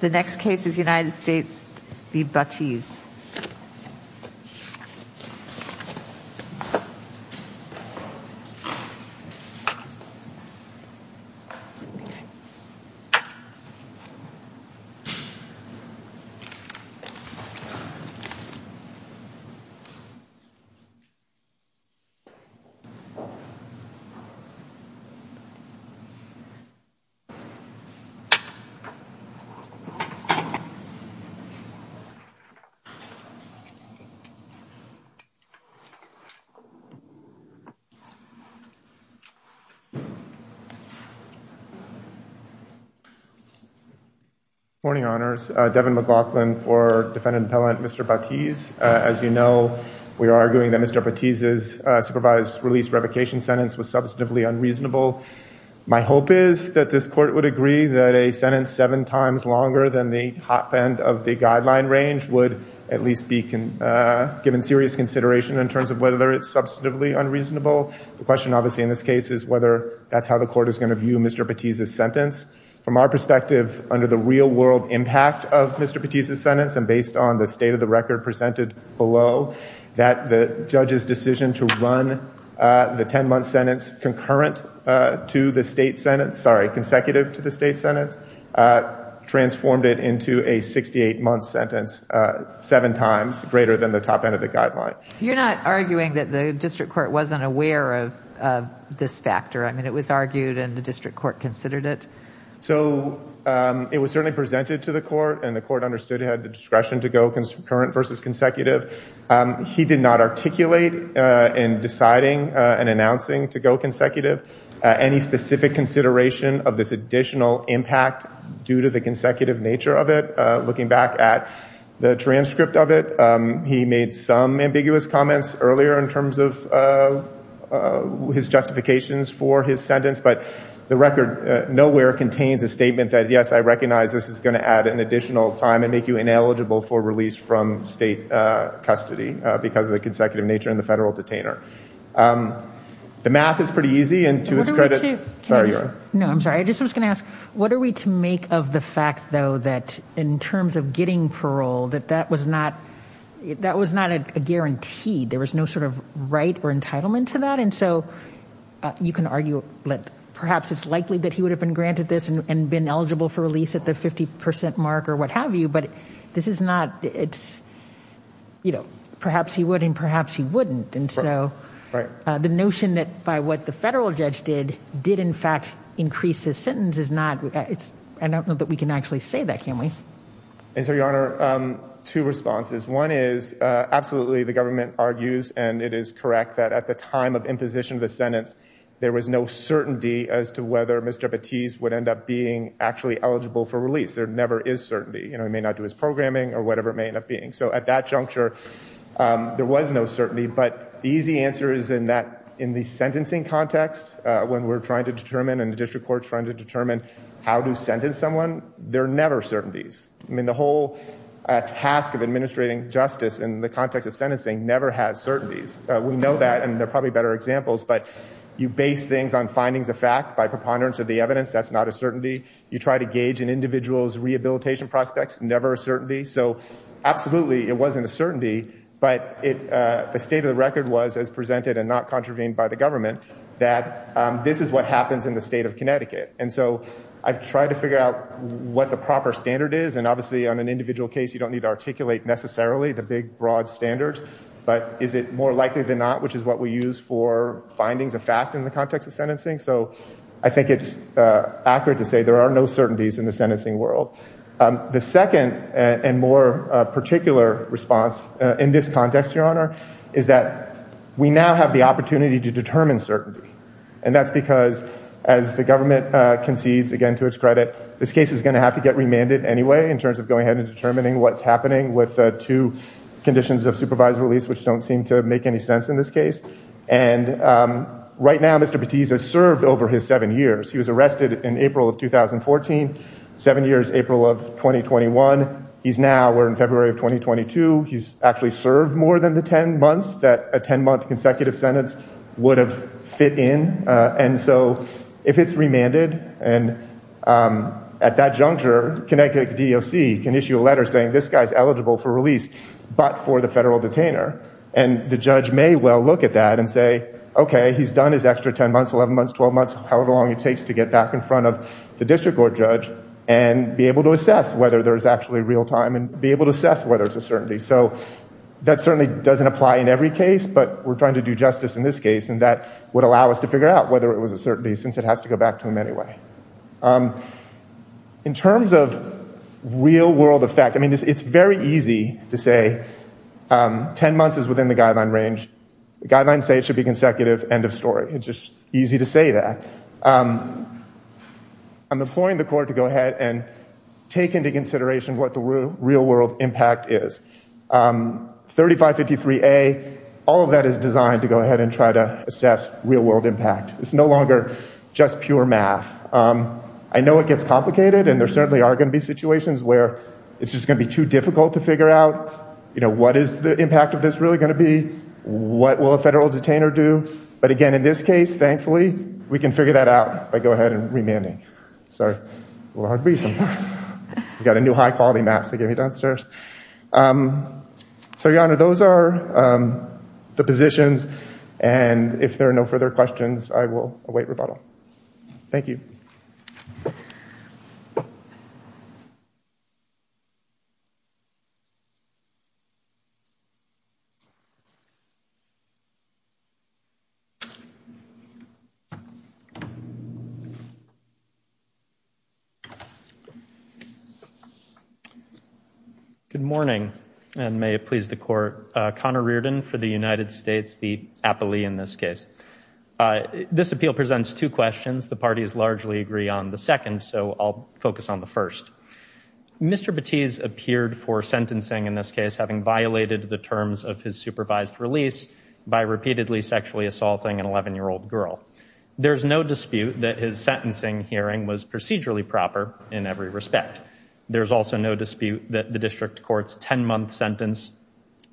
The next case is United States v. Batiz. Good morning, Your Honors. Devin McLaughlin for Defendant Appellant Mr. Batiz. As you know, we are arguing that Mr. Batiz's supervised release revocation sentence was substantively unreasonable. My hope is that this Court would agree that a sentence seven times longer than the top end of the guideline range would at least be given serious consideration in terms of whether it's substantively unreasonable. The question obviously in this case is whether that's how the Court is going to view Mr. Batiz's sentence. From our perspective, under the real-world impact of Mr. Batiz's sentence and based on the state of the record presented below, that the judge's decision to run the 10-month sentence concurrent to the state sentence, sorry, consecutive to the state sentence, transformed it into a 68-month sentence seven times greater than the top end of the guideline. You're not arguing that the District Court wasn't aware of this factor? I mean, it was argued and the District Court considered it? So it was certainly presented to the Court and the Court understood it had the discretion to go concurrent versus consecutive. He did not articulate in deciding and announcing to go consecutive any specific consideration of this additional impact due to the consecutive nature of it. Looking back at the transcript of it, he made some ambiguous comments earlier in terms of his justifications for his sentence. But the record nowhere contains a statement that, yes, I recognize this is going to add an additional time and make you ineligible for release from state custody because of the consecutive nature and the federal detainer. The math is pretty easy, and to his credit— What are we to— Sorry, you are. No, I'm sorry. I just was going to ask, what are we to make of the fact, though, that in terms of getting parole, that that was not a guarantee? There was no sort of right or entitlement to that? And so you can argue that perhaps it's likely that he would have been granted this and been for release at the 50 percent mark or what have you, but this is not— Perhaps he would, and perhaps he wouldn't. And so the notion that by what the federal judge did, did in fact increase his sentence is not—I don't know that we can actually say that, can we? And so, Your Honor, two responses. One is, absolutely, the government argues, and it is correct, that at the time of imposition of the sentence, there was no certainty as to whether Mr. Batiste would end up being actually eligible for release. There never is certainty. You know, he may not do his programming or whatever it may end up being. So at that juncture, there was no certainty. But the easy answer is in the sentencing context, when we're trying to determine and the district court's trying to determine how to sentence someone, there are never certainties. I mean, the whole task of administrating justice in the context of sentencing never has certainties. We know that, and there are probably better examples, but you base things on findings of fact by preponderance of the evidence. That's not a certainty. You try to gauge an individual's rehabilitation prospects, never a certainty. So absolutely, it wasn't a certainty, but the state of the record was, as presented and not contravened by the government, that this is what happens in the state of Connecticut. And so I've tried to figure out what the proper standard is. And obviously, on an individual case, you don't need to articulate necessarily the big, broad standards. But is it more likely than not, which is what we use for findings of fact in the context of sentencing? So I think it's accurate to say there are no certainties in the sentencing world. The second and more particular response in this context, Your Honor, is that we now have the opportunity to determine certainty. And that's because, as the government concedes again to its credit, this case is going to have to get remanded anyway in terms of going ahead and determining what's happening with two conditions of supervised release, which don't seem to make any sense in this case. And right now, Mr. Batista has served over his seven years. He was arrested in April of 2014, seven years, April of 2021. He's now, we're in February of 2022. He's actually served more than the 10 months that a 10-month consecutive sentence would have fit in. And so if it's remanded, and at that juncture, Connecticut DEOC can issue a letter saying, this guy's eligible for release, but for the federal detainer. And the judge may well look at that and say, OK, he's done his extra 10 months, 11 months, 12 months, however long it takes to get back in front of the district court judge and be able to assess whether there's actually real time and be able to assess whether it's a certainty. So that certainly doesn't apply in every case. But we're trying to do justice in this case. And that would allow us to figure out whether it was a certainty, since it has to go back to him anyway. In terms of real world effect, I mean, it's very easy to say 10 months is within the guideline range. The guidelines say it should be consecutive, end of story. It's just easy to say that. I'm imploring the court to go ahead and take into consideration what the real world impact is. 3553A, all of that is designed to go ahead and try to assess real world impact. It's no longer just pure math. I know it gets complicated. And there certainly are going to be situations where it's just going to be too difficult to figure out what is the impact of this really going to be? What will a federal detainer do? But again, in this case, thankfully, we can figure that out by go ahead and remanding. Sorry, a little hard to breathe sometimes. I've got a new high quality mask they gave me downstairs. So, Your Honor, those are the positions. And if there are no further questions, I will await rebuttal. Thank you. Good morning, and may it please the court. Connor Reardon for the United States, the appellee in this case. This appeal presents two questions. The parties largely agree on the second. So I'll focus on the first. Mr. Batiste appeared for sentencing in this case, having violated the terms of his supervised release by repeatedly sexually assaulting an 11-year-old girl. There's no dispute that his sentencing hearing was procedurally proper in every respect. There's also no dispute that the district court's 10-month sentence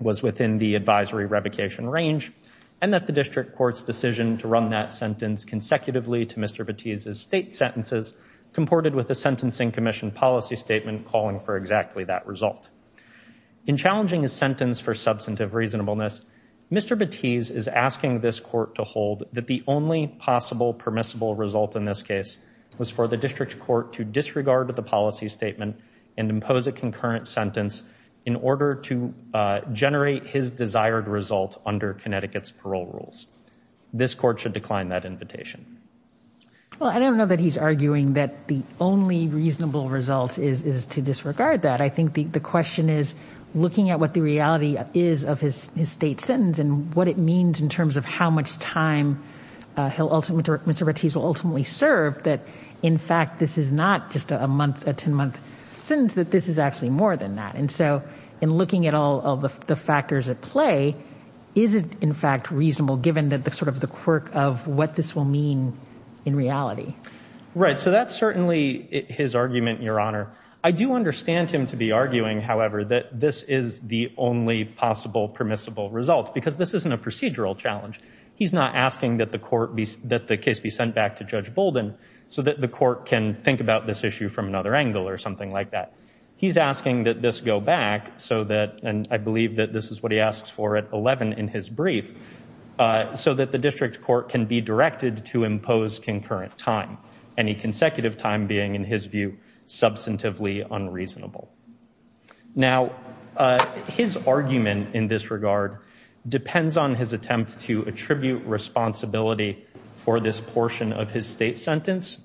was within the advisory revocation range, and that the district court's decision to run that sentence consecutively to Mr. Batiste's state sentences, comported with the Sentencing Commission policy statement calling for exactly that result. In challenging his sentence for substantive reasonableness, Mr. Batiste is asking this court to hold that the only possible permissible result in this case was for the district court to disregard the policy statement and impose a concurrent sentence in order to generate his desired result under Connecticut's parole rules. This court should decline that invitation. Well, I don't know that he's arguing that the only reasonable result is to disregard that. I think the question is, looking at what the reality is of his state sentence and what it means in terms of how much time Mr. Batiste will ultimately serve, that in fact, this is not just a month, a 10-month sentence, that this is actually more than that. And so in looking at all the factors at play, is it in fact reasonable, given that the sort of the quirk of what this will mean in reality? Right, so that's certainly his argument, Your Honor. I do understand him to be arguing, however, that this is the only possible permissible result because this isn't a procedural challenge. He's not asking that the court be, that the case be sent back to Judge Bolden so that the court can think about this issue from another angle or something like that. He's asking that this go back so that, and I believe that this is what he asks for at 11 in his brief, so that the district court can be directed to impose concurrent time, any consecutive time being, in his view, substantively unreasonable. Now, his argument in this regard depends on his attempt to attribute responsibility for this portion of his state sentence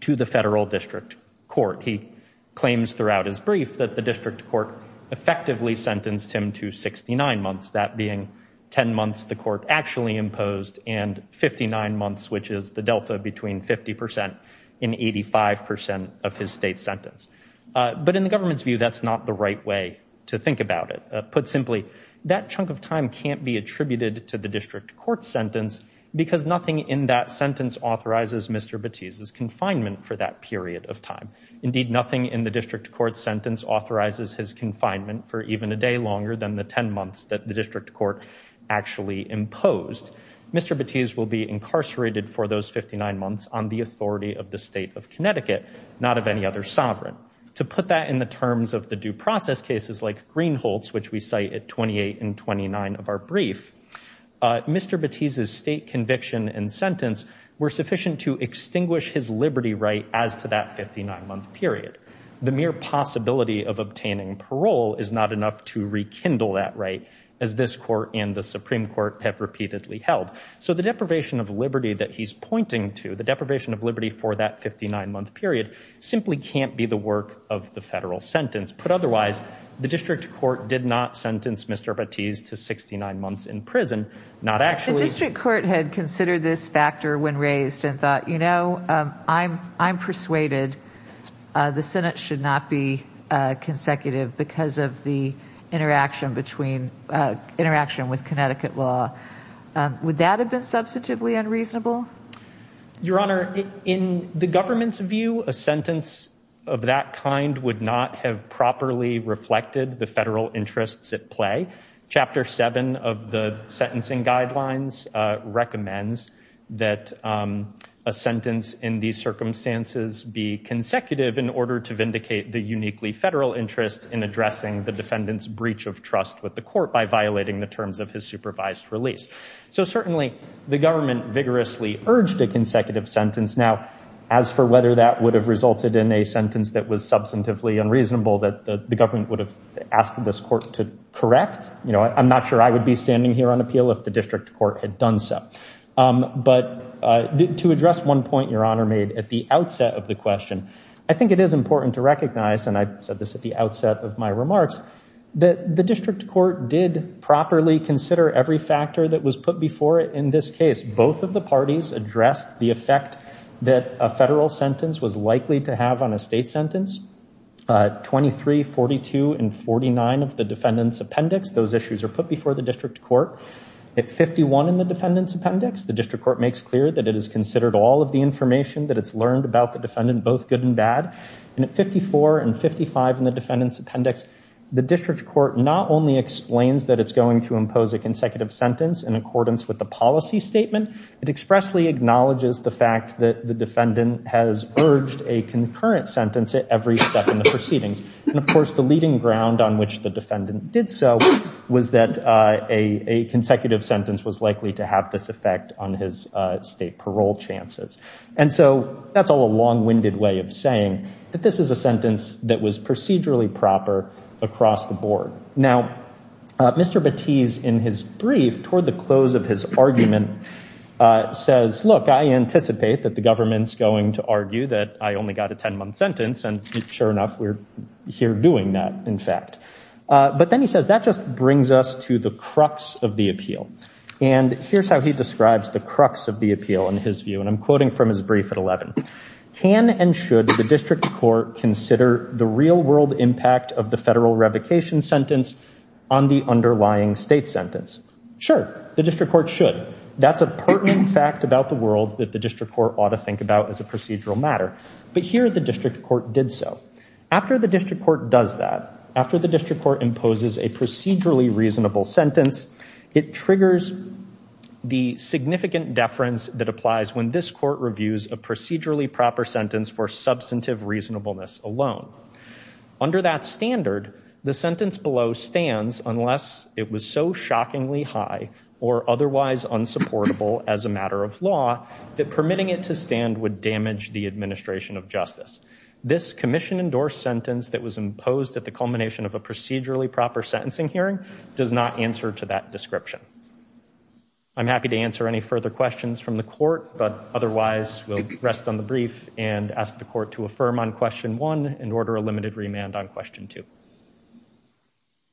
to the federal district court. He claims throughout his brief that the district court effectively sentenced him to 69 months, that being 10 months the court actually imposed and 59 months, which is the delta between 50% and 85% of his state sentence. But in the government's view, that's not the right way to think about it. Put simply, that chunk of time can't be attributed to the district court's sentence because nothing in that sentence authorizes Mr. Batiste's confinement for that period of time. Indeed, nothing in the district court's sentence authorizes his confinement for even a day longer than the 10 months that the district court actually imposed. Mr. Batiste will be incarcerated for those 59 months on the authority of the state of Connecticut, not of any other sovereign. To put that in the terms of the due process cases like Greenholz, which we cite at 28 and 29 of our brief, Mr. Batiste's state conviction and sentence were sufficient to extinguish his liberty right as to that 59-month period. The mere possibility of obtaining parole is not enough to rekindle that right, as this court and the Supreme Court have repeatedly held. So the deprivation of liberty that he's pointing to, the deprivation of liberty for that 59-month period, simply can't be the work of the federal sentence. Put otherwise, the district court did not sentence Mr. Batiste to 69 months in prison, not actually... The district court had considered this factor when raised and thought, you know, I'm persuaded the Senate should not be consecutive because of the interaction with Connecticut law. Would that have been substantively unreasonable? Your Honor, in the government's view, a sentence of that kind would not have properly reflected the federal interests at play. Chapter 7 of the sentencing guidelines recommends that a sentence in these circumstances be consecutive in order to vindicate the uniquely federal interest in addressing the defendant's breach of trust with the court by violating the terms of his supervised release. So certainly, the government vigorously urged a consecutive sentence. Now, as for whether that would have resulted in a sentence that was substantively unreasonable that the government would have asked this court to correct, you know, I'm not sure I would be standing here on appeal if the district court had done so. But to address one point Your Honor made at the outset of the question, I think it is important to recognize, and I said this at the outset of my remarks, that the district court did properly consider every factor that was put before it in this case. Both of the parties addressed the effect that a federal sentence was likely to have on a state sentence. 23, 42, and 49 of the defendant's appendix, those issues are put before the district court. At 51 in the defendant's appendix, the district court makes clear that it has considered all of the information that it's learned about the defendant, both good and bad. And at 54 and 55 in the defendant's appendix, the district court not only explains that it's going to impose a consecutive sentence in accordance with the policy statement, it expressly acknowledges the fact that the defendant has urged a concurrent sentence at every step in the proceedings. And of course, the leading ground on which the defendant did so was that a consecutive sentence was likely to have this effect on his state parole chances. And so that's all a long-winded way of saying that this is a sentence that was procedurally proper across the board. Now, Mr. Battease, in his brief, toward the close of his argument, says, look, I anticipate that the government's going to argue that I only got a 10-month sentence. And sure enough, we're here doing that, in fact. But then he says, that just brings us to the crux of the appeal. And here's how he describes the crux of the appeal in his view. And I'm quoting from his brief at 11. Can and should the district court consider the real-world impact of the federal revocation sentence on the underlying state sentence? Sure, the district court should. That's a pertinent fact about the world that the district court ought to think about as a procedural matter. But here, the district court did so. After the district court does that, after the district court imposes a procedurally reasonable sentence, it triggers the significant deference that applies when this court reviews a procedurally proper sentence for substantive reasonableness alone. Under that standard, the sentence below stands unless it was so shockingly high or otherwise unsupportable as a matter of law that permitting it to stand would damage the administration of justice. This commission-endorsed sentence that was imposed at the culmination of a procedurally proper sentencing hearing does not answer to that description. I'm happy to answer any further questions but otherwise, we'll rest on the brief and ask the court to affirm on question one and order a limited remand on question two.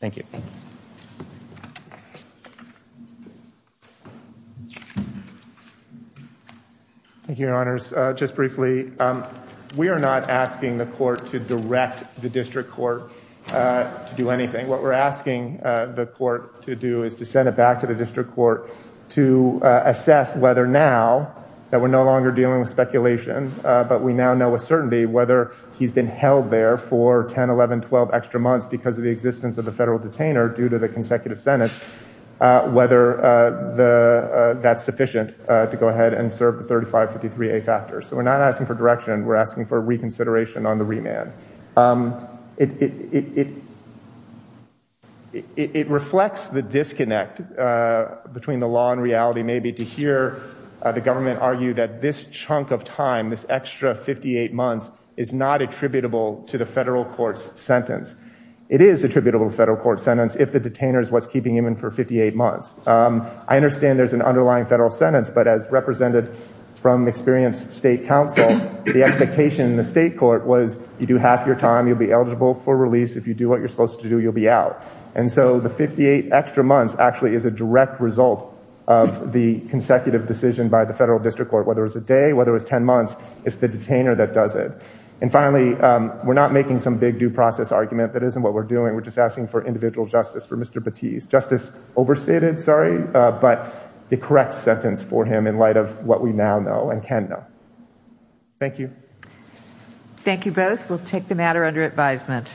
Thank you. Thank you, your honors. Just briefly, we are not asking the court to direct the district court to do anything. What we're asking the court to do is to send it back to the district court to assess whether now that we're no longer dealing with speculation but we now know with certainty whether he's been held there for 10, 11, 12 extra months because of the existence of the federal detainer due to the consecutive sentence, whether that's sufficient to go ahead and serve the 3553A factors. So we're not asking for direction. We're asking for reconsideration on the remand. It reflects the disconnect between the law and reality maybe to hear the government argue that this chunk of time, this extra 58 months is not attributable to the federal court's sentence. It is attributable to the federal court's sentence if the detainer is what's keeping him in for 58 months. I understand there's an underlying federal sentence but as represented from experienced state counsel, the expectation in the state court was you do half your time. You'll be eligible for release. If you do what you're supposed to do, you'll be out. And so the 58 extra months actually is a direct result of the consecutive decision by the federal district court. Whether it's a day, whether it's 10 months, it's the detainer that does it. And finally, we're not making some big due process argument that isn't what we're doing. We're just asking for individual justice for Mr. Batiste. Justice overstated, sorry, but the correct sentence for him in light of what we now know and can know. Thank you. Thank you both. We'll take the matter under advisement.